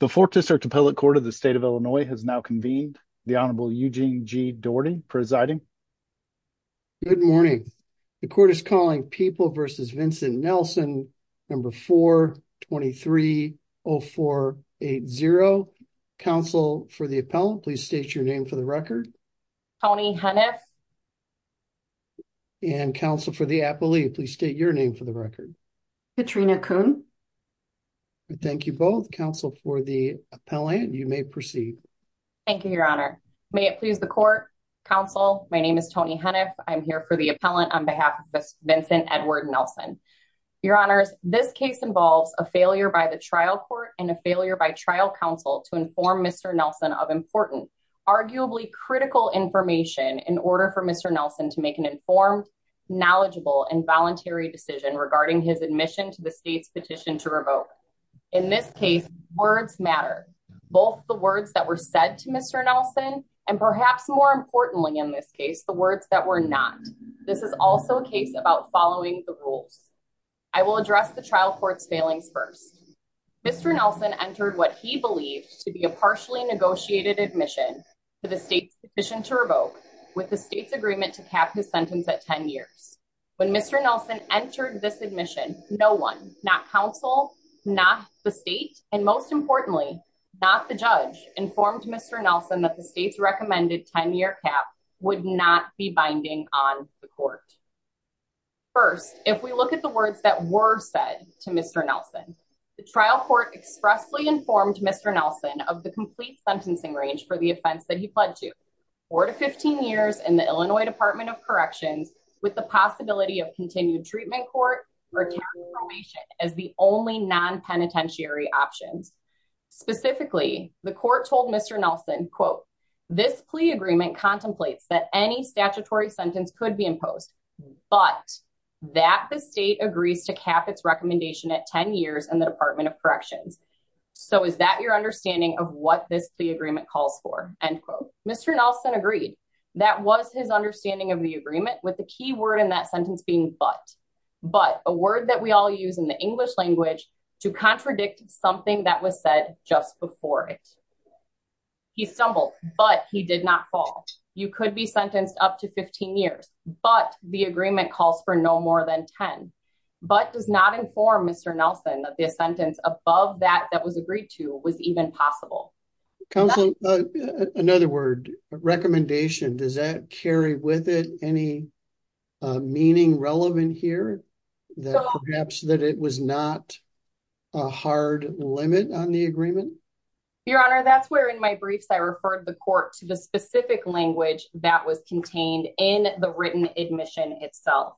The 4th District Appellate Court of the State of Illinois has now convened. The Honorable Eugene G. Doherty presiding. Good morning. The court is calling People v. Vincent Nelson, number 423-0480. Counsel for the appellant, please state your name for the record. Tony Hunneth. And counsel for the appellee, please state your name for the record. Katrina Kuhn. Thank you both. Counsel for the appellant, you may proceed. Thank you, Your Honor. May it please the court. Counsel, my name is Tony Hunneth. I'm here for the appellant on behalf of Vincent Edward Nelson. Your Honors, this case involves a failure by the trial court and a failure by trial counsel to inform Mr. Nelson of important, arguably critical information in order for Mr. Nelson to make an informed, knowledgeable, and voluntary decision regarding his admission to the state's petition to revoke. In this case, words matter. Both the words that were said to Mr. Nelson, and perhaps more importantly in this case, the words that were not. This is also a case about following the rules. I will address the trial court's failings first. Mr. Nelson entered what he believed to be a partially negotiated admission to the state's petition to revoke with the state's agreement to cap his sentence at 10 years. When Mr. Nelson entered this admission, no one, not counsel, not the state, and most importantly, not the judge, informed Mr. Nelson that the state's recommended 10-year cap would not be binding on the court. First, if we look at the words that were said to Mr. Nelson, the trial court expressly informed Mr. Nelson of the complete sentencing range for the offense that he pled to, 4-15 years in the Illinois Department of Corrections, with the possibility of continued treatment court or temporary probation as the only non-penitentiary options. Specifically, the court told Mr. Nelson, quote, this plea agreement contemplates that any statutory sentence could be imposed, but that the state agrees to cap its recommendation at 10 years in the Department of Corrections. So, is that your understanding of what this plea agreement calls for? End quote. Mr. Nelson agreed. That was his understanding of the agreement with the key word in that sentence being but. But, a word that we all use in the English language to contradict something that was said just before it. He stumbled, but he did not fall. You could be sentenced up to 15 years, but the agreement calls for no more than 10. But does not inform Mr. Nelson that the sentence above that that was agreed to was even possible. Counsel, another word, recommendation, does that carry with it any meaning relevant here? That perhaps that it was not a hard limit on the agreement? Your Honor, that's where in my briefs, I referred the court to the specific language that was contained in the written admission itself.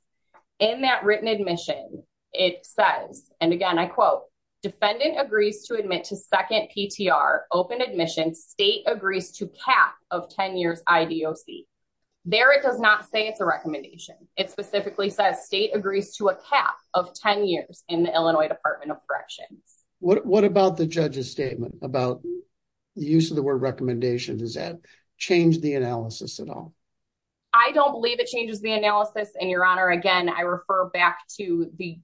In that written admission, it says, and again, I quote, defendant agrees to admit to second PTR open admission. State agrees to cap of 10 years IDOC. There it does not say it's a recommendation. It specifically says state agrees to a cap of 10 years in the Illinois Department of Corrections. What about the judge's statement about the use of the word recommendation? Does that change the analysis at all? I don't believe it changes the analysis, and Your Honor, again, I refer back to the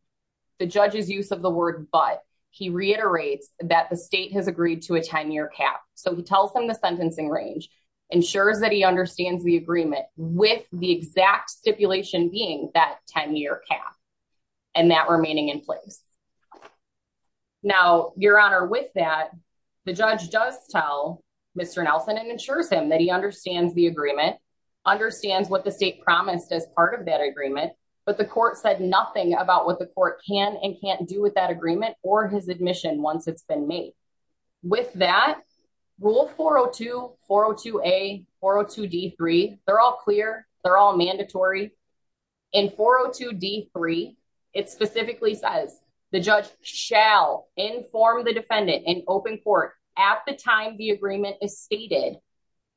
judge's use of the word, but he reiterates that the state has agreed to a 10 year cap. So he tells them the sentencing range ensures that he understands the agreement with the exact stipulation being that 10 year cap and that remaining in place. Now, Your Honor, with that, the judge does tell Mr. Nelson and ensures him that he understands the agreement, understands what the state promised as part of that agreement, but the court said nothing about what the court can and can't do with that agreement or his admission once it's been made. With that, Rule 402, 402A, 402D3, they're all clear, they're all mandatory. In 402D3, it specifically says the judge shall inform the defendant in open court at the time the agreement is stated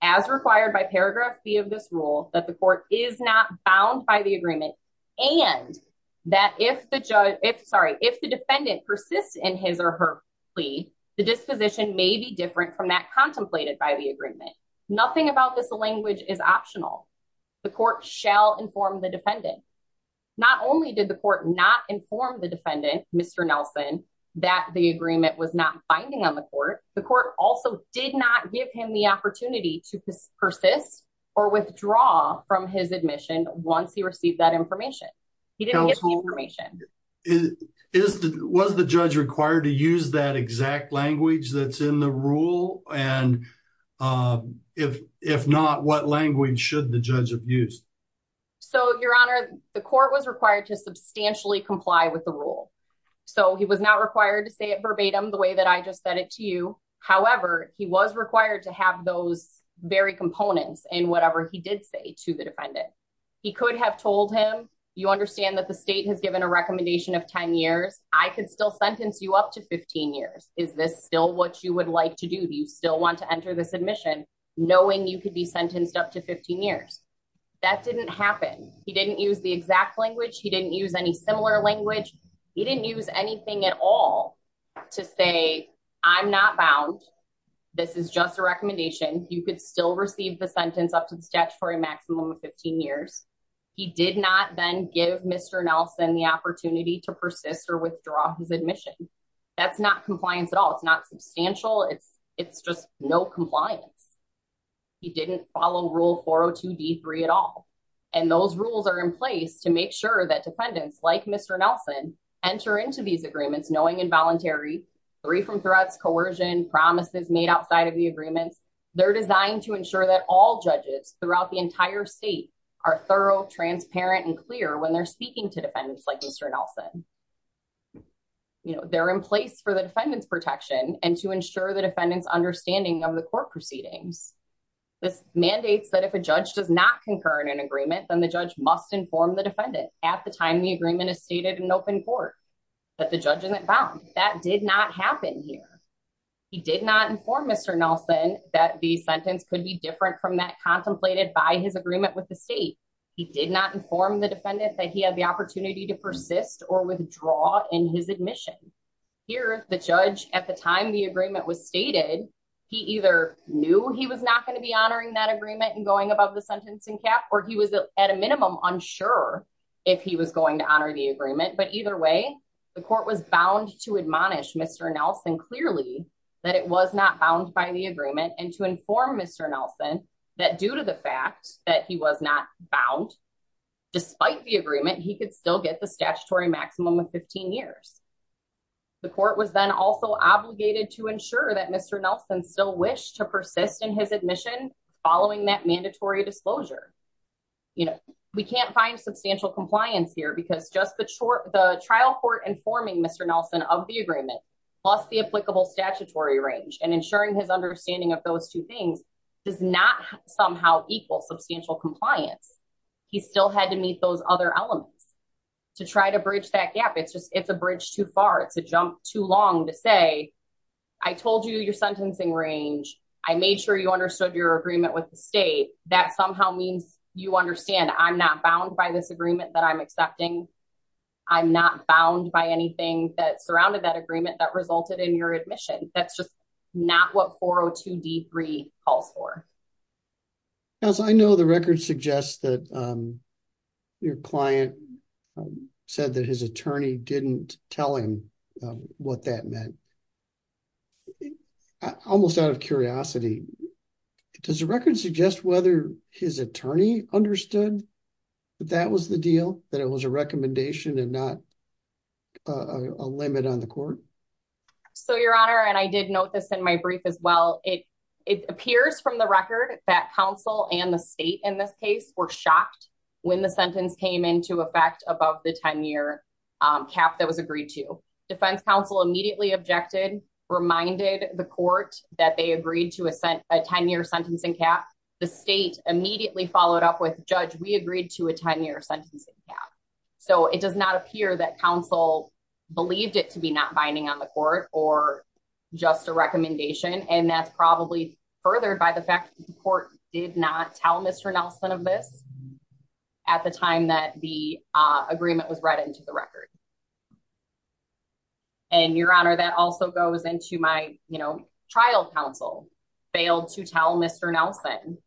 as required by paragraph B of this rule that the court is not bound by the agreement and that if the judge, sorry, if the defendant persists in his or her plea, the disposition may be different from that contemplated by the agreement. Nothing about this language is optional. The court shall inform the defendant. Not only did the court not inform the defendant, Mr. Nelson, that the agreement was not binding on the court, the court also did not give him the opportunity to persist or withdraw from his admission once he received that information. He didn't get the information. Was the judge required to use that exact language that's in the rule? And if not, what language should the judge have used? So, Your Honor, the court was required to substantially comply with the rule. So, he was not required to say it verbatim the way that I just said it to you. However, he was required to have those very components in whatever he did say to the defendant. He could have told him, you understand that the state has given a recommendation of 10 years, I could still sentence you up to 15 years. Is this still what you would like to do? Do you still want to enter this admission knowing you could be sentenced up to 15 years? That didn't happen. He didn't use the exact language. He didn't use any similar language. He didn't use anything at all to say, I'm not bound. This is just a recommendation. You could still receive the sentence up to the statutory maximum of 15 years. He did not then give Mr. Nelson the opportunity to persist or withdraw his admission. That's not compliance at all. It's not substantial. It's just no compliance. He didn't follow rule 402 D3 at all. And those rules are in place to make sure that defendants like Mr. Nelson enter into these agreements knowing involuntary, free from threats, coercion, promises made outside of the agreements. They're designed to ensure that all judges throughout the entire state are thorough, transparent, and clear when they're speaking to defendants like Mr. Nelson. They're in place for the defendant's protection and to ensure the defendant's understanding of the court proceedings. This mandates that if a judge does not concur in an agreement, then the judge must inform the defendant at the time the agreement is stated in open court that the judge isn't bound. That did not happen here. He did not inform Mr. Nelson that the sentence could be different from that contemplated by his agreement with the state. He did not inform the defendant that he had the opportunity to persist or withdraw his in his admission. Here, the judge, at the time the agreement was stated, he either knew he was not going to be honoring that agreement and going above the sentencing cap, or he was at a minimum unsure if he was going to honor the agreement. But either way, the court was bound to admonish Mr. Nelson clearly that it was not bound by the agreement and to inform Mr. Nelson that due to fact that he was not bound, despite the agreement, he could still get the statutory maximum of 15 years. The court was then also obligated to ensure that Mr. Nelson still wished to persist in his admission following that mandatory disclosure. You know, we can't find substantial compliance here because just the trial court informing Mr. Nelson of the agreement, plus the applicable statutory range and ensuring his understanding of those two things does not somehow equal substantial compliance. He still had to meet those other elements to try to bridge that gap. It's just it's a bridge too far. It's a jump too long to say, I told you your sentencing range. I made sure you understood your agreement with the state. That somehow means you understand I'm not bound by this agreement that I'm accepting. I'm not bound by anything that surrounded that agreement that resulted in your admission. That's just not what 402 D3 calls for. Now, so I know the record suggests that your client said that his attorney didn't tell him what that meant. Almost out of curiosity, does the record suggest whether his attorney understood that that was the deal that it was a recommendation and not a limit on the court? So, Your Honor, and I did note this in my brief as well. It appears from the record that counsel and the state in this case were shocked when the sentence came into effect above the 10-year cap that was agreed to. Defense counsel immediately objected, reminded the court that they agreed to a 10-year sentencing cap. The state immediately followed up with, Judge, we agreed to a 10-year sentencing cap. So it does not appear that counsel believed it to be not binding on the court or just a recommendation. And that's probably furthered by the fact that the court did not tell Mr. Nelson of this at the time that the agreement was read into the record. And, Your Honor, that also goes into my, you know, trial counsel failed to tell Mr. Nelson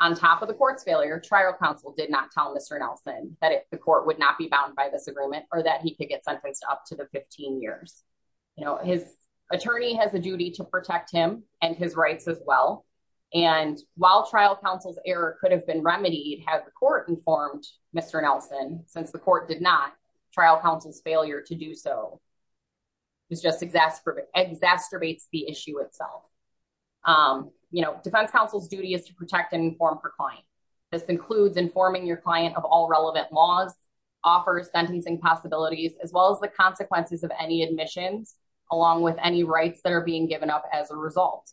on top of the court's failure, trial counsel did not tell Mr. Nelson that the court would not be by this agreement or that he could get sentenced up to the 15 years. You know, his attorney has a duty to protect him and his rights as well. And while trial counsel's error could have been remedied had the court informed Mr. Nelson, since the court did not, trial counsel's failure to do so just exacerbates the issue itself. You know, defense counsel's duty is to protect and inform her client. This includes informing your client of all relevant laws, offers sentencing possibilities, as well as the consequences of any admissions along with any rights that are being given up as a result.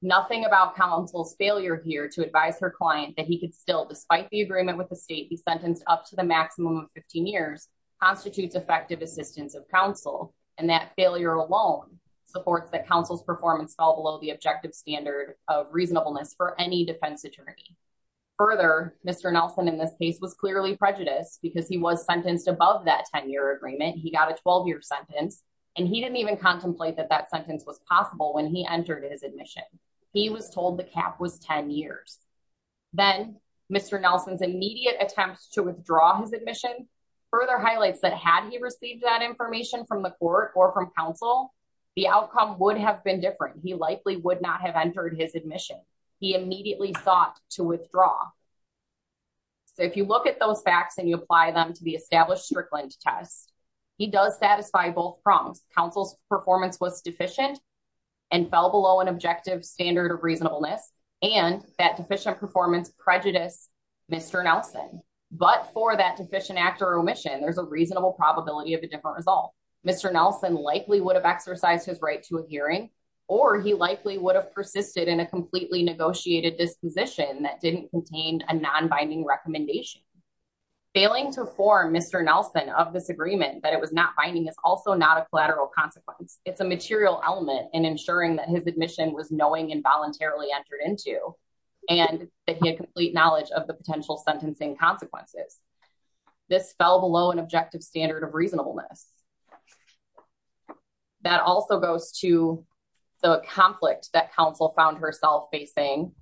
Nothing about counsel's failure here to advise her client that he could still, despite the agreement with the state, be sentenced up to the maximum of 15 years, constitutes effective assistance of counsel. And that failure alone supports that counsel's performance fell below the objective standard of reasonableness for any defense attorney. Further, Mr. Nelson in this case was clearly prejudiced because he was sentenced above that 10-year agreement. He got a 12-year sentence and he didn't even contemplate that that sentence was possible when he entered his admission. He was told the cap was 10 years. Then Mr. Nelson's immediate attempts to withdraw his admission further highlights that had he received that information from the court or from counsel, the outcome would have been different. He likely would not have entered his admission. He immediately sought to withdraw. So if you look at those facts and you apply them to the established Strickland test, he does satisfy both prongs. Counsel's performance was deficient and fell below an objective standard of reasonableness, and that deficient performance prejudiced Mr. Nelson. But for that deficient act or omission, there's a reasonable probability of a different result. Mr. Nelson likely would have exercised his right to a hearing or he likely would have persisted in a completely negotiated disposition that didn't contain a non-binding recommendation. Failing to form Mr. Nelson of this agreement that it was not binding is also not a collateral consequence. It's a material element in ensuring that his admission was knowing and voluntarily entered into and that he had complete knowledge of the potential sentencing consequences. This fell below an objective standard of reasonableness. That also goes to the conflict that counsel found herself facing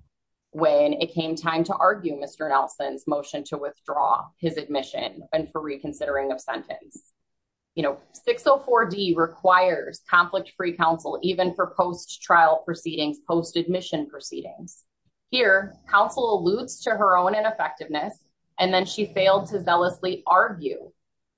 when it came time to argue Mr. Nelson's motion to withdraw his admission and for reconsidering of sentence. You know, 604D requires conflict-free counsel even for post-trial proceedings, post-admission proceedings. Here, counsel alludes to her own ineffectiveness and then she failed to zealously argue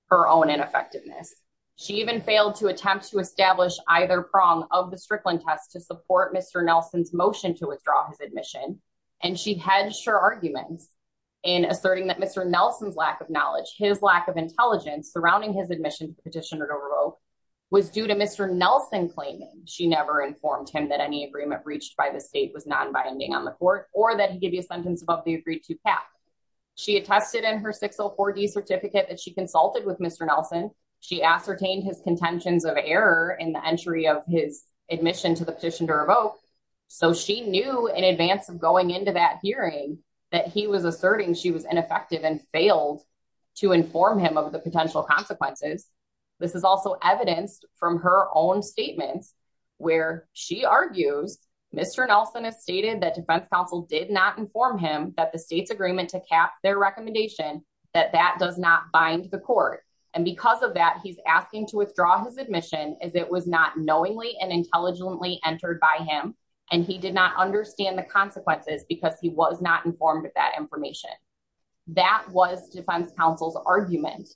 her own effectiveness. She even failed to attempt to establish either prong of the Strickland test to support Mr. Nelson's motion to withdraw his admission and she hedged her arguments in asserting that Mr. Nelson's lack of knowledge, his lack of intelligence surrounding his admission to the petitioner to revoke was due to Mr. Nelson claiming she never informed him that any agreement breached by the state was non-binding on the court or that he give you a sentence above the agreed-to path. She attested in her 604D certificate that she consulted with Mr. Nelson. She ascertained his contentions of error in the entry of his admission to the petition to revoke. So she knew in advance of going into that hearing that he was asserting she was ineffective and failed to inform him of the potential consequences. This is also evidenced from her own statements where she argues Mr. Nelson has stated that defense counsel did not inform him that the state's agreement to cap their recommendation that that does not bind the court and because of that he's asking to withdraw his admission as it was not knowingly and intelligently entered by him and he did not understand the consequences because he was not informed of that information. That was defense counsel's argument.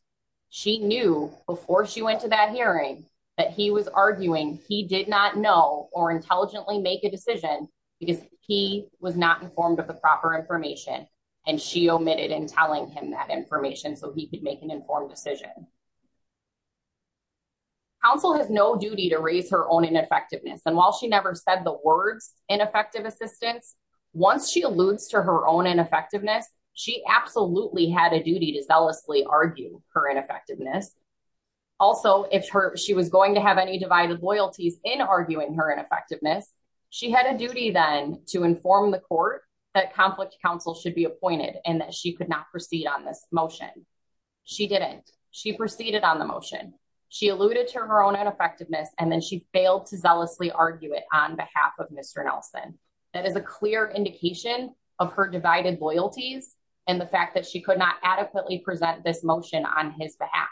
She knew before she went to that hearing that he was arguing he did not know or intelligently make a decision because he was not informed of the proper information and she omitted in telling him that information so he could make an informed decision. Counsel has no duty to raise her own ineffectiveness and while she never said the words ineffective assistance, once she alludes to her own ineffectiveness, she absolutely had a duty to argue her ineffectiveness. Also, if she was going to have any divided loyalties in arguing her ineffectiveness, she had a duty then to inform the court that conflict counsel should be appointed and that she could not proceed on this motion. She didn't. She proceeded on the motion. She alluded to her own ineffectiveness and then she failed to zealously argue it on behalf of Mr. Nelson. That is a clear indication of her divided loyalties and the fact that she could not present this motion on his behalf.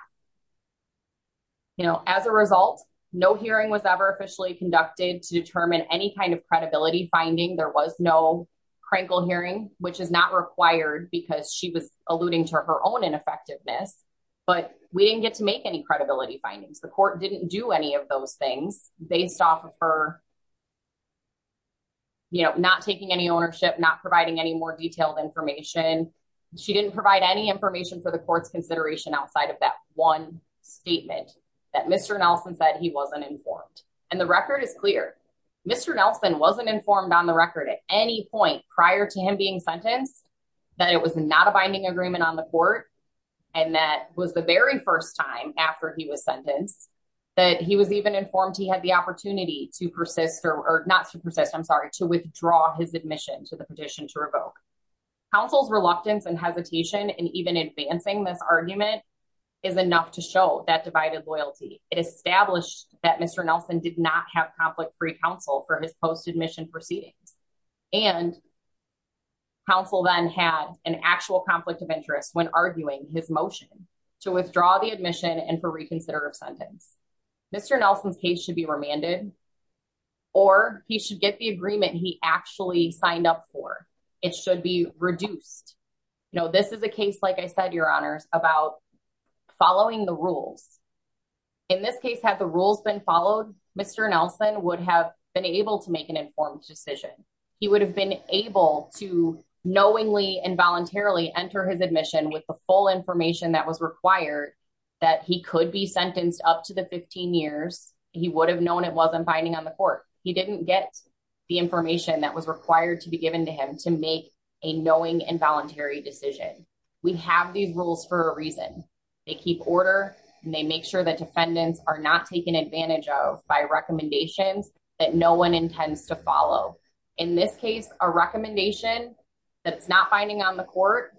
As a result, no hearing was ever officially conducted to determine any kind of credibility finding. There was no crankle hearing, which is not required because she was alluding to her own ineffectiveness, but we didn't get to make any credibility findings. The court didn't do any of those things based off of her not taking any ownership, not providing any more detailed information. She didn't provide any information for the court's consideration outside of that one statement that Mr. Nelson said he wasn't informed. The record is clear. Mr. Nelson wasn't informed on the record at any point prior to him being sentenced, that it was not a binding agreement on the court, and that was the very first time after he was sentenced that he was even informed he had the opportunity to withdraw his admission to the petition to revoke. Counsel's reluctance and hesitation and even advancing this argument is enough to show that divided loyalty. It established that Mr. Nelson did not have conflict-free counsel for his post admission proceedings, and counsel then had an actual conflict of interest when arguing his motion to withdraw the admission and for reconsider of sentence. Mr. Nelson's case should be remanded or he should get the agreement he actually signed up for. It should be reduced. You know, this is a case, like I said, Your Honors, about following the rules. In this case, had the rules been followed, Mr. Nelson would have been able to make an informed decision. He would have been able to knowingly and voluntarily enter his admission with the full information that was required that he could be sentenced up to the 15 years. He would have known it wasn't binding on the court. He didn't get the information that was required to be given to him to make a knowing and voluntary decision. We have these rules for a reason. They keep order and they make sure that defendants are not taken advantage of by recommendations that no one intends to follow. In this case, a recommendation that's not binding on the court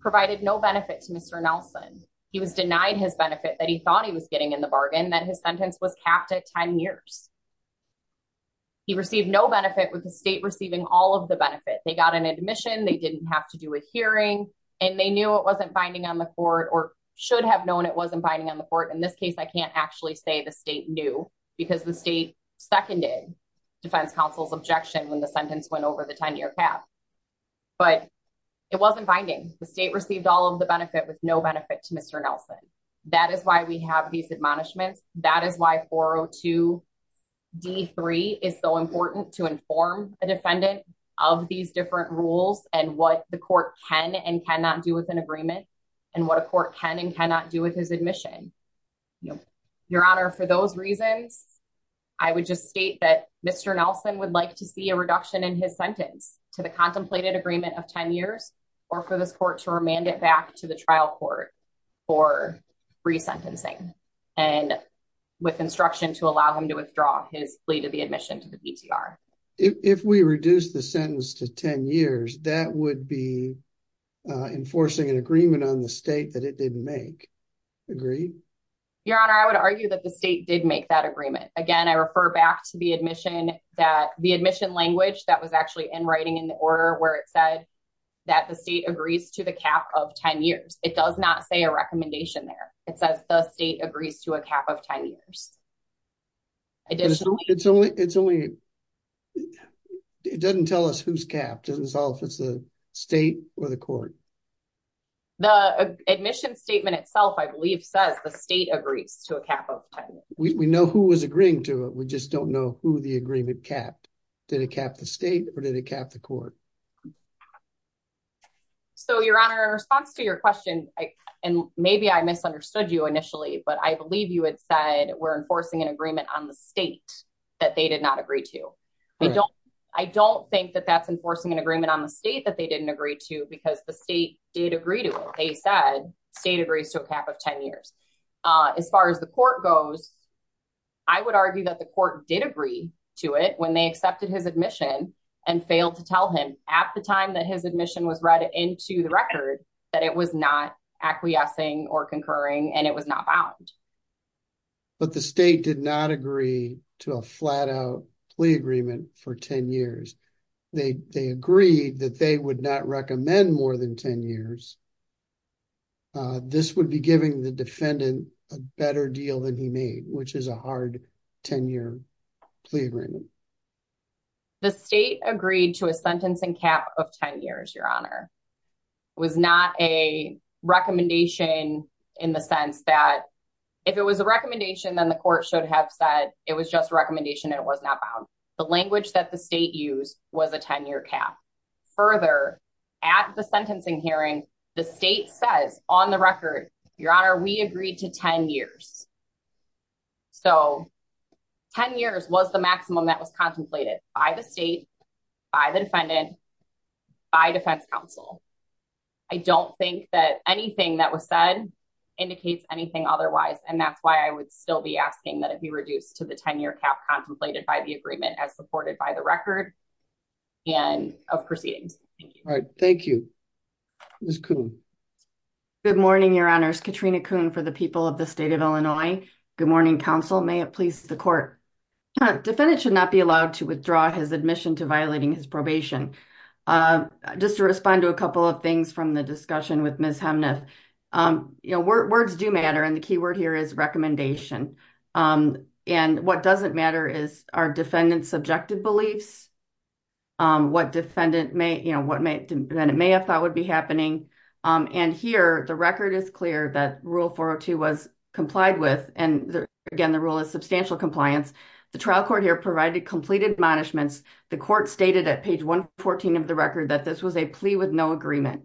provided no benefit to Mr. Nelson. He was denied his benefit that he thought he was getting in the bargain, that his sentence was capped at 10 years. He received no benefit with the state receiving all of the benefit. They got an admission, they didn't have to do a hearing, and they knew it wasn't binding on the court or should have known it wasn't binding on the court. In this case, I can't actually say the state knew because the state seconded Defense Counsel's objection when the sentence went over the 10-year cap. But it wasn't binding. The state received all of the benefit with no benefit to Mr. Nelson. That is why we have these admonishments. That is why 402 D3 is so important to inform a defendant of these different rules and what the court can and cannot do with an agreement and what a court can and cannot do with his admission. Your Honor, for those reasons, I would just state that Mr. Nelson would like to see a reduction in his sentence to the contemplated agreement of 10 years or for this court to hand it back to the trial court for re-sentencing and with instruction to allow him to withdraw his plea to the admission to the DTR. If we reduce the sentence to 10 years, that would be enforcing an agreement on the state that it didn't make. Agreed? Your Honor, I would argue that the state did make that agreement. Again, I refer back to the admission language that was actually in writing in the order where it said that the state agrees to the cap of 10 years. It does not say a recommendation there. It says the state agrees to a cap of 10 years. It doesn't tell us who's capped. It doesn't tell us if it's the state or the court. The admission statement itself, I believe, says the state agrees to a cap of 10 years. We know who was agreeing to it. We just don't know who the agreement capped. Did it cap the state or did it cap the court? Your Honor, in response to your question, and maybe I misunderstood you initially, but I believe you had said we're enforcing an agreement on the state that they did not agree to. I don't think that that's enforcing an agreement on the state that they didn't agree to because the state did agree to it. They said the state agrees to a cap of 10 years. As far as the court goes, I would argue that the court did agree to it when they accepted his admission and failed to tell him at the time that his admission was read into the record that it was not acquiescing or concurring and it was not bound. But the state did not agree to a flat-out plea agreement for 10 years. They agreed that they would not recommend more than 10 years. This would be giving the defendant a better deal than he made, which is a hard 10-year plea agreement. The state agreed to a sentencing cap of 10 years, Your Honor. It was not a recommendation in the sense that if it was a recommendation, then the court should have said it was just a recommendation and it was not bound. The language that the state used was a 10-year cap. Further, at the sentencing hearing, the state says on the record, Your Honor, we agreed to 10 years. So 10 years was the maximum that was contemplated by the state, by the defendant, by defense counsel. I don't think that anything that was said indicates anything otherwise, and that's why I would still be asking that it be reduced to the 10-year cap contemplated by the agreement as supported by the record and of proceedings. Thank you. All right, thank you. Ms. Kuhn. Good morning, Your Honors. Katrina Kuhn for the people of the state of Illinois. Good morning, counsel. May it please the court. Defendant should not be allowed to withdraw his admission to violating his probation. Just to respond to a couple of things from the discussion with Ms. Hemnath. Words do matter and the key word here is recommendation. And what doesn't matter is our defendant's subjective beliefs, what the defendant may have thought would be happening. And here, the record is clear that Rule 402 was complied with, and again the rule is substantial compliance. The trial court here provided complete admonishments. The court stated at page 114 of the record that this was a plea with no agreement.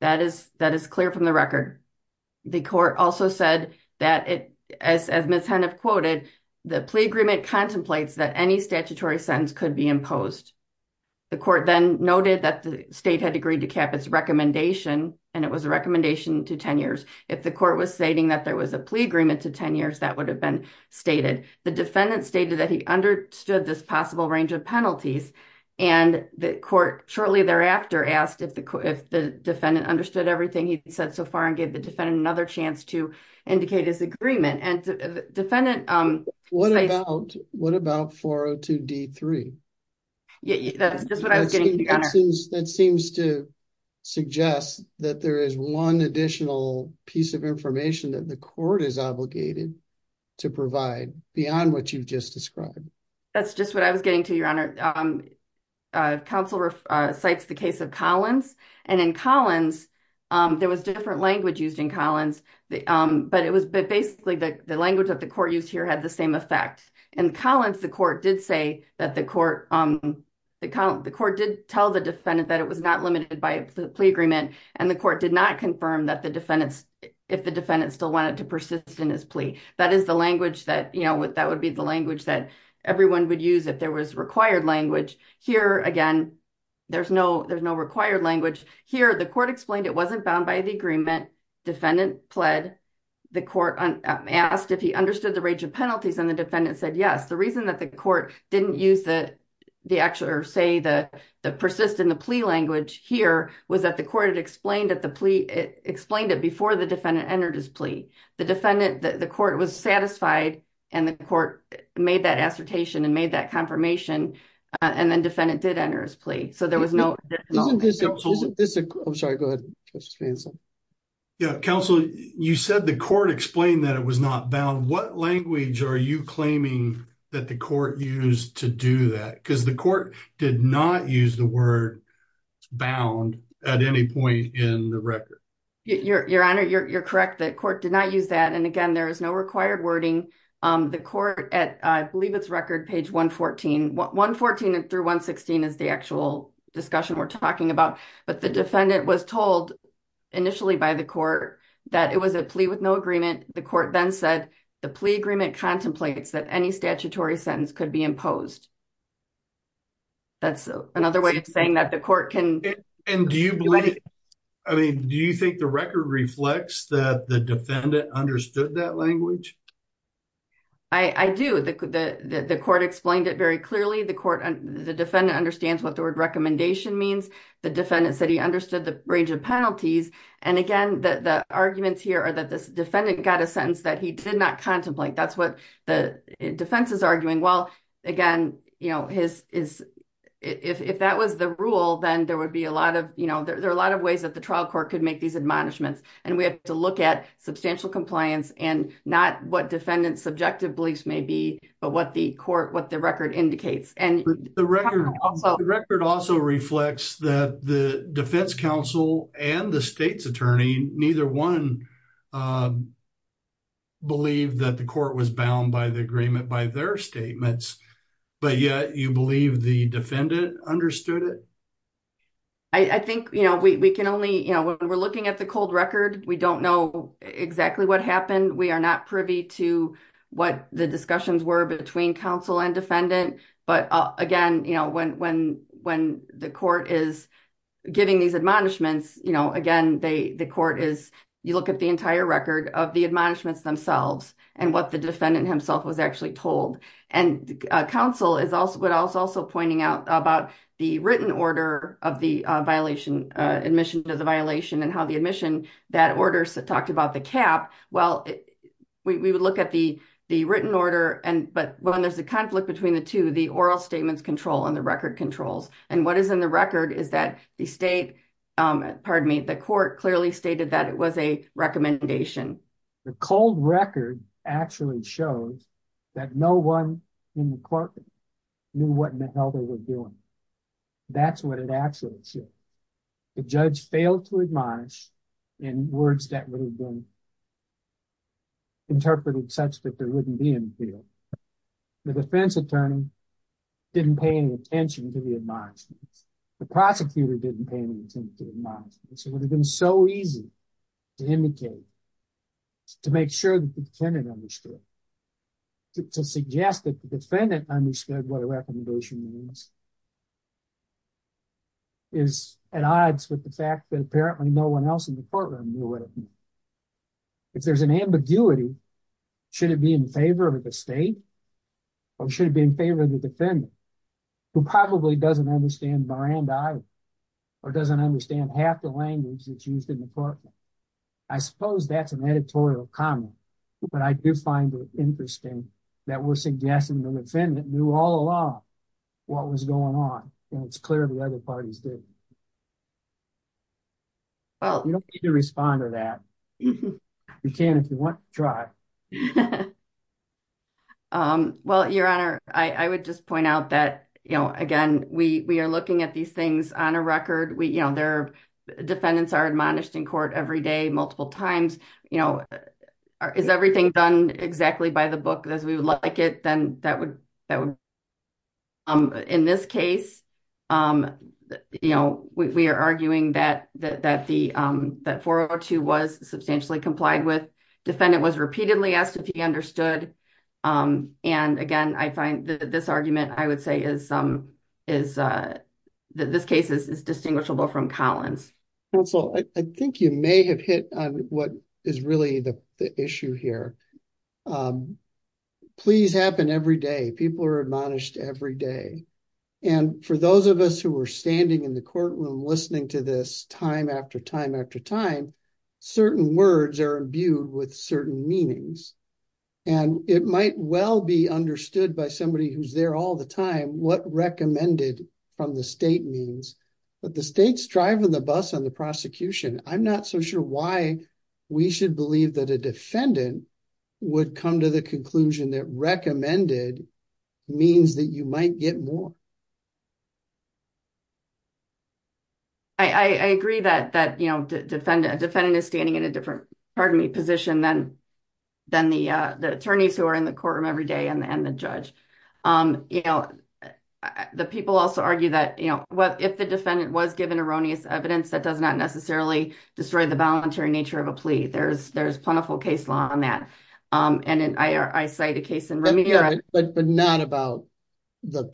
That is clear from the record. The court also said that, as Ms. Hemnath quoted, the plea agreement contemplates that any statutory sentence could be imposed. The court then noted that the state had agreed to cap its recommendation and it was a recommendation to 10 years. If the court was stating that there was a plea agreement to 10 years, that would have been stated. The defendant stated that he understood this possible range of penalties and the court shortly thereafter asked if the defendant understood everything he said so far and gave the defendant another chance to indicate his agreement. What about 402 D3? That seems to suggest that there is one additional piece of information that the court is obligated to provide beyond what you just described. That's just what I was There was different language used in Collins, but basically the language that the court used here had the same effect. In Collins, the court did tell the defendant that it was not limited by a plea agreement and the court did not confirm if the defendant still wanted to persist in his plea. That would be the language that everyone would use if there was required language. Here, again, there's no required language. Here, the court explained it wasn't bound by the agreement. The defendant pled. The court asked if he understood the range of penalties and the defendant said yes. The reason that the court didn't use the persist in the plea language here was that the court explained it before the defendant entered his plea. The court was satisfied and the court made that assertion and made that confirmation and then the defendant did enter his plea. So there was no additional. Counsel, you said the court explained that it was not bound. What language are you claiming that the court used to do that? Because the court did not use the word bound at any point in the record. Your honor, you're correct. The court did not use that and again, there is no required wording. The court at, I believe it's record page 114. 114 through 116 is the actual discussion we're talking about, but the defendant was told initially by the court that it was a plea with no agreement. The court then said the plea agreement contemplates that any statutory sentence could be imposed. That's another way of saying that the do you believe? I mean, do you think the record reflects that the defendant understood that language? I do. The court explained it very clearly. The court, the defendant understands what the word recommendation means. The defendant said he understood the range of penalties and again, the arguments here are that this defendant got a sentence that he did not contemplate. That's the defense is arguing. Well, again, if that was the rule, then there would be a lot of, you know, there are a lot of ways that the trial court could make these admonishments and we have to look at substantial compliance and not what defendants subjective beliefs may be, but what the court, what the record indicates. The record also reflects that the defense counsel and the state's attorney, neither one believe that the court was bound by the agreement, by their statements, but yet you believe the defendant understood it. I think, you know, we can only, you know, when we're looking at the cold record, we don't know exactly what happened. We are not privy to what the discussions were between counsel and defendant. But again, you know, the court is, you look at the entire record of the admonishments themselves and what the defendant himself was actually told. And counsel is also pointing out about the written order of the violation, admission to the violation and how the admission, that order talked about the cap. Well, we would look at the written order, but when there's a conflict between the two, the oral statements control and the record controls. And what is in the record is that the state, pardon me, the court clearly stated that it was a recommendation. The cold record actually shows that no one in the courtroom knew what in the hell they were doing. That's what it actually said. The judge failed to admonish in words that would have been interpreted such that there wouldn't be in the field. The defense attorney didn't pay attention to the admonishments. The prosecutor didn't pay any attention to the admonishments. It would have been so easy to indicate, to make sure that the defendant understood, to suggest that the defendant understood what a recommendation means is at odds with the fact that apparently no one else in the courtroom knew what it meant. If there's an ambiguity, should it be in favor of the state or should it be in favor of the defendant? Who probably doesn't understand Miranda or doesn't understand half the language that's used in the courtroom. I suppose that's an editorial comment, but I do find it interesting that we're suggesting the defendant knew all along what was going on and it's clear the other parties didn't. Well, you don't need to respond to that. You can if you want to try. Well, your honor, I would just point out that, you know, again, we are looking at these things on a record. We, you know, their defendants are admonished in court every day, multiple times, you know, is everything done exactly by the book as we would like it, then that would, that would. In this case, you know, we are arguing that 402 was substantially complied with. Defendant was repeatedly asked if he understood. And again, I find that this argument, I would say is that this case is distinguishable from Collins. Counsel, I think you may have hit on what is really the issue here. Pleas happen every day. People are admonished every day. And for those of us who were standing in the courtroom, listening to this time after time after time, certain words are imbued with certain meanings. And it might well be understood by somebody who's there all the time what recommended from the state means. But the state's driving the bus on the prosecution. I'm not so sure why we should believe that a defendant would come to the conclusion that recommended means that you might get more. I agree that that, you know, defend a defendant is standing in a different part of me position, then then the attorneys who are in the courtroom every day and the judge, you know, the people also argue that, you know, what if the defendant was given erroneous evidence that does not necessarily destroy the voluntary nature of a plea, there's there's plentiful case law on that. And I cite a case in remedial, but not about the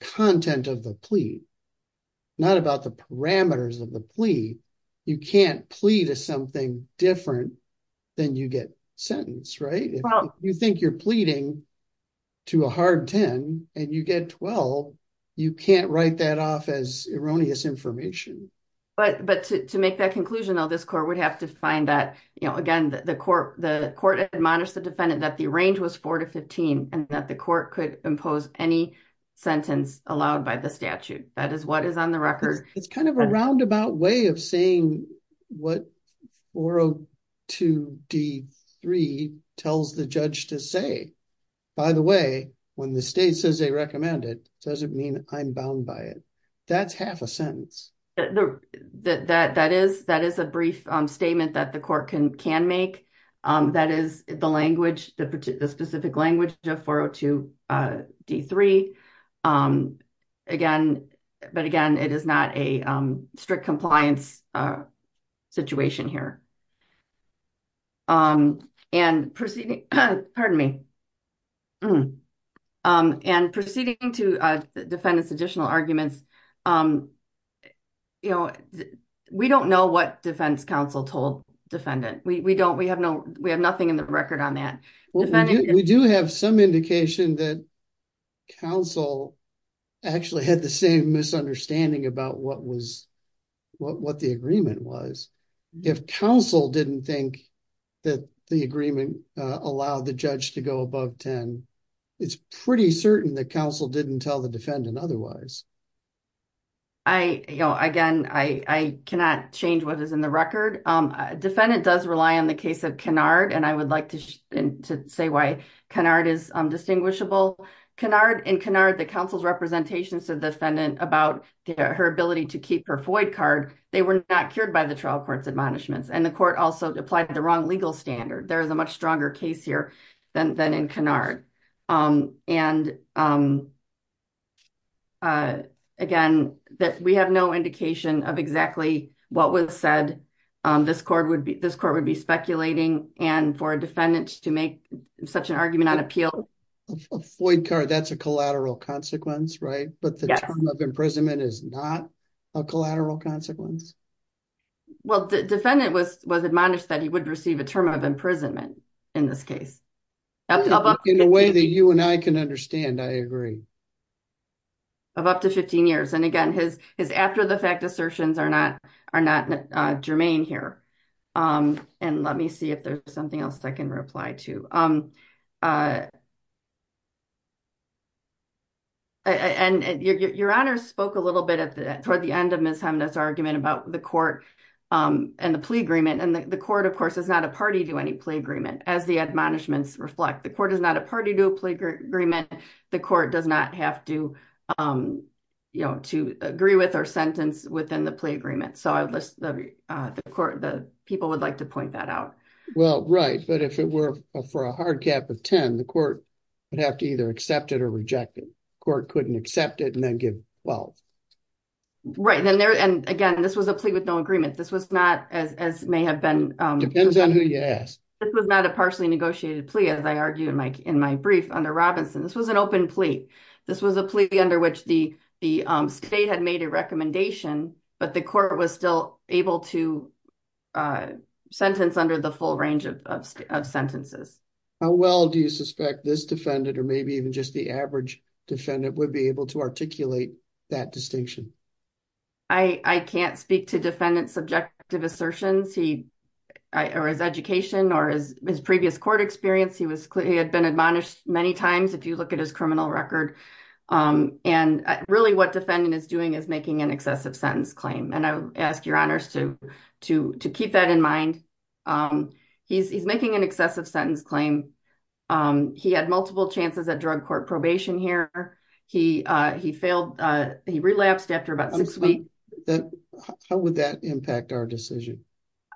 content of the plea, not about the parameters of the plea. You can't plea to something different than you get sentenced, right? You think you're pleading to a hard 10 and you get 12. You can't write that off as erroneous information. But but to make that conclusion, though, this court would have to find that, you know, again, the court, the court admonished the defendant that the range was 4 to 15 and that the court could impose any sentence allowed by the statute. That is what is on the record. It's kind of a roundabout way of saying what 402 D3 tells the judge to say, by the way, when the state says they recommend it doesn't mean I'm bound by it. That's half a sentence that that that is that is a brief statement that the court can can make. That is the language, the specific language of 402 D3. Again, but again, it is not a strict compliance situation here. And proceeding. Pardon me. And proceeding to defend this additional arguments. You know, we don't know what defense counsel told defendant we don't we have no we have nothing in record on that. We do have some indication that counsel actually had the same misunderstanding about what was what the agreement was. If counsel didn't think that the agreement allowed the judge to go above 10, it's pretty certain that counsel didn't tell the defendant otherwise. I know again, I cannot change what is in the record. Defendant does rely on the case of and I would like to say why canard is distinguishable canard and canard the council's representations to defendant about her ability to keep her void card. They were not cured by the trial courts admonishments and the court also applied the wrong legal standard. There is a much stronger case here than in canard. And again, that we have no indication of exactly what was said. This court would be this court and for defendants to make such an argument on appeal, void card, that's a collateral consequence, right? But the imprisonment is not a collateral consequence. Well, the defendant was was admonished that he would receive a term of imprisonment in this case. In a way that you and I can understand I agree. Of up to 15 years and again, his his after the fact assertions are not are not germane here. Um, and let me see if there's something else I can reply to. Um, uh, and your honor spoke a little bit at the end of this argument about the court and the plea agreement and the court of course is not a party to any plea agreement as the admonishments reflect the court is not a party to a plea agreement. The court does not have to, you know, to agree with sentence within the plea agreement. So I would list the court, the people would like to point that out. Well, right. But if it were for a hard cap of 10, the court would have to either accept it or reject it. Court couldn't accept it and then give well, right then there. And again, this was a plea with no agreement. This was not as as may have been depends on who you ask. This was not a partially negotiated plea. As I argued in my in my brief under Robinson, this was an open plea. This was a plea under which the the state had made a recommendation, but the court was still able to sentence under the full range of sentences. How well do you suspect this defendant or maybe even just the average defendant would be able to articulate that distinction? I can't speak to defendant subjective assertions. He or his education or his previous court experience, he was he had been admonished many times. If you look at his criminal record and really what defendant is doing is making an excessive sentence claim. And I ask your honors to to to keep that in mind. He's making an excessive sentence claim. He had multiple chances at drug court probation here. He he failed. He relapsed after about how would that impact our decision?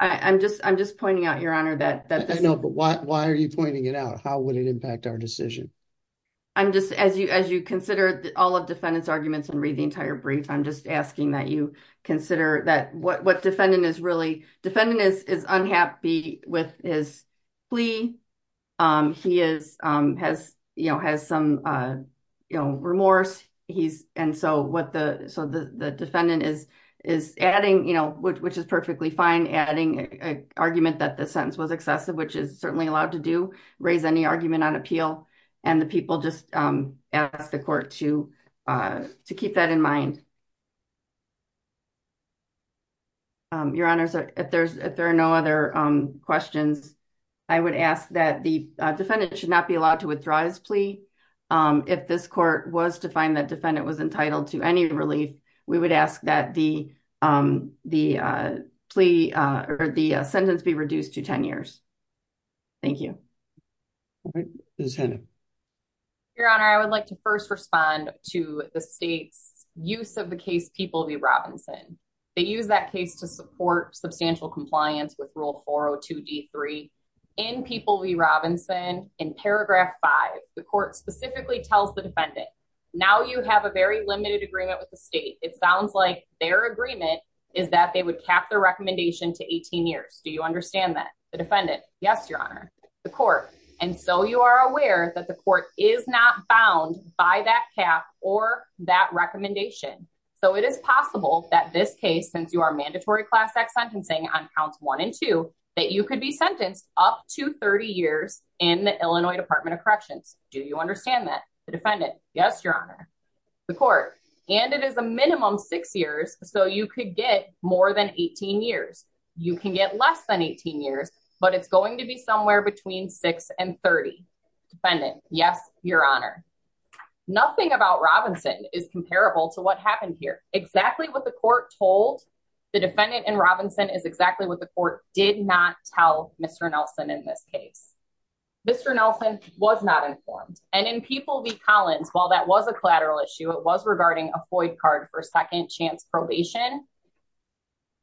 I'm just I'm just pointing out, Your Honor, that I know. But why are you pointing it out? How would it impact our decision? I'm just as you as you consider all of defendants arguments and read the entire brief, I'm just asking that you consider that what defendant is really defendant is is unhappy with his plea. He is has, you know, has some remorse. He's and so what the so the defendant is adding, you know, which is perfectly fine, adding an argument that the sentence was excessive, which is certainly allowed to do raise any argument on appeal. And the people just ask the court to to keep that in mind. Your honors, if there's if there are no other questions, I would ask that the defendant should not be allowed to withdraw his plea. If this court was to find that defendant was entitled to any relief, we would ask that the the plea or the sentence be reduced to 10 years. Thank you. This is Hannah. Your Honor, I would like to first respond to the state's use of the case People v. Robinson. They use that case to support substantial compliance with Rule 402 D3. In People v. Robinson, in paragraph five, the court specifically tells the defendant, Now you have a very limited agreement with the state. It sounds like their agreement is that they would cap the recommendation to 18 years. Do you understand that the defendant? Yes, Your Honor, the court. And so you are aware that the court is not bound by that cap or that recommendation. So it is possible that this case, since you are mandatory class X sentencing on counts one and two, that you could be sentenced up to 30 years in the Illinois Department of Do you understand that the defendant? Yes, Your Honor, the court. And it is a minimum six years. So you could get more than 18 years. You can get less than 18 years, but it's going to be somewhere between six and 30. Defendant? Yes, Your Honor. Nothing about Robinson is comparable to what happened here. Exactly what the court told the defendant in Robinson is exactly what the court did not tell Mr. Nelson in this case. Mr. Nelson was not informed. And in People v. Collins, while that was a collateral issue, it was regarding a void card for second chance probation.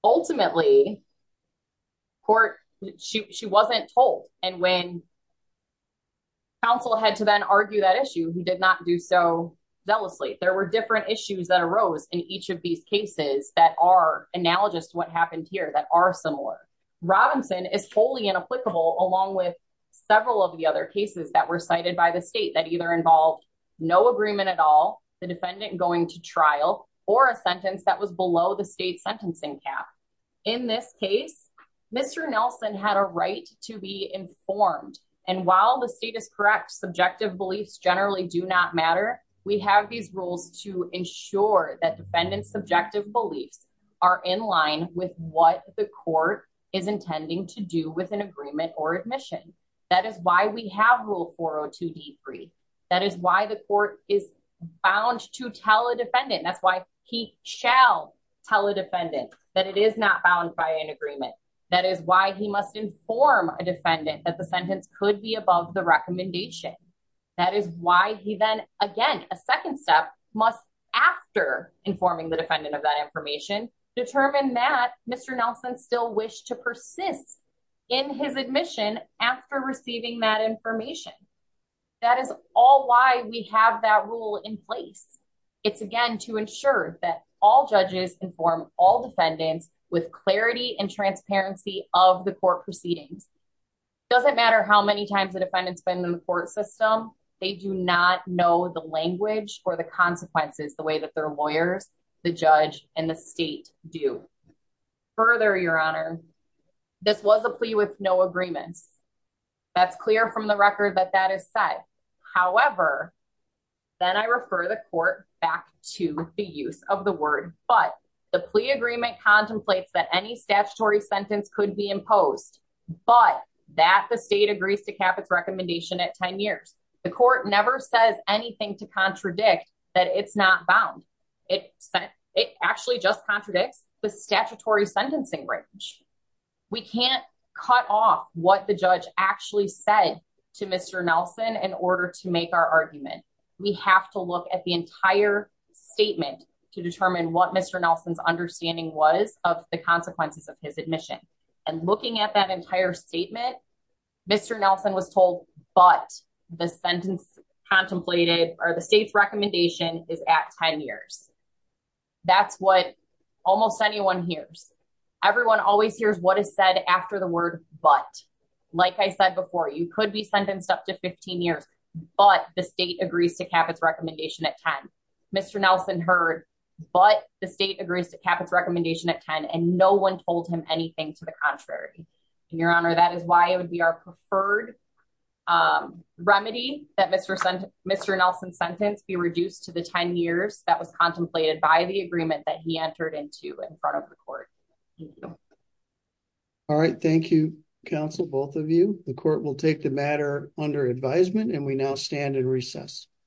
Ultimately, court, she wasn't told. And when counsel had to then argue that issue, he did not do so zealously. There were different issues that arose in each of these cases that are analogous to what happened here that are similar. Robinson is wholly inapplicable along with several of the other cases that were cited by the state that either involved no agreement at all the defendant going to trial or a sentence that was below the state sentencing cap. In this case, Mr. Nelson had a right to be informed. And while the state is correct, subjective beliefs generally do not matter. We have these rules to ensure that defendants subjective beliefs are in line with what the court is intending to do with an agreement or admission. That is why we have rule 402 D three. That is why the court is bound to tell a defendant that's why he shall tell a defendant that it is not bound by an agreement. That is why he must inform a defendant that the sentence could be above the recommendation. That is why he then again, a second step must after informing the defendant of that information, determine that Mr. Nelson still wish to persist in his admission after receiving that information. That is all why we have that rule in place. It's again to ensure that all judges inform all defendants with clarity and transparency of the court proceedings. Doesn't matter how many times the defendants been in the court system, they do not know the language or the consequences the way that their lawyers, the judge and the state do. Further, Your Honor, this was a plea with no agreements. That's clear from the record that that is set. However, then I refer the court back to the use of the word but the plea agreement contemplates that any statutory sentence could be but that the state agrees to cap its recommendation at 10 years. The court never says anything to contradict that it's not bound. It actually just contradicts the statutory sentencing range. We can't cut off what the judge actually said to Mr. Nelson in order to make our argument. We have to look at the entire statement to determine what Mr. Nelson's understanding was of the consequences of his admission. And looking at that entire statement, Mr. Nelson was told but the sentence contemplated or the state's recommendation is at 10 years. That's what almost anyone hears. Everyone always hears what is said after the word but. Like I said before, you could be sentenced up to 15 years but the state agrees to cap its recommendation at 10. Mr. Nelson heard but the state agrees to cap its recommendation at 10 and no one told him anything to the contrary. Your Honor, that is why it would be our preferred remedy that Mr. Nelson's sentence be reduced to the 10 years that was contemplated by the agreement that he entered into in front of the court. Thank you. All right. Thank you, counsel, both of you. The court will take the matter under advisement and we now stand in recess.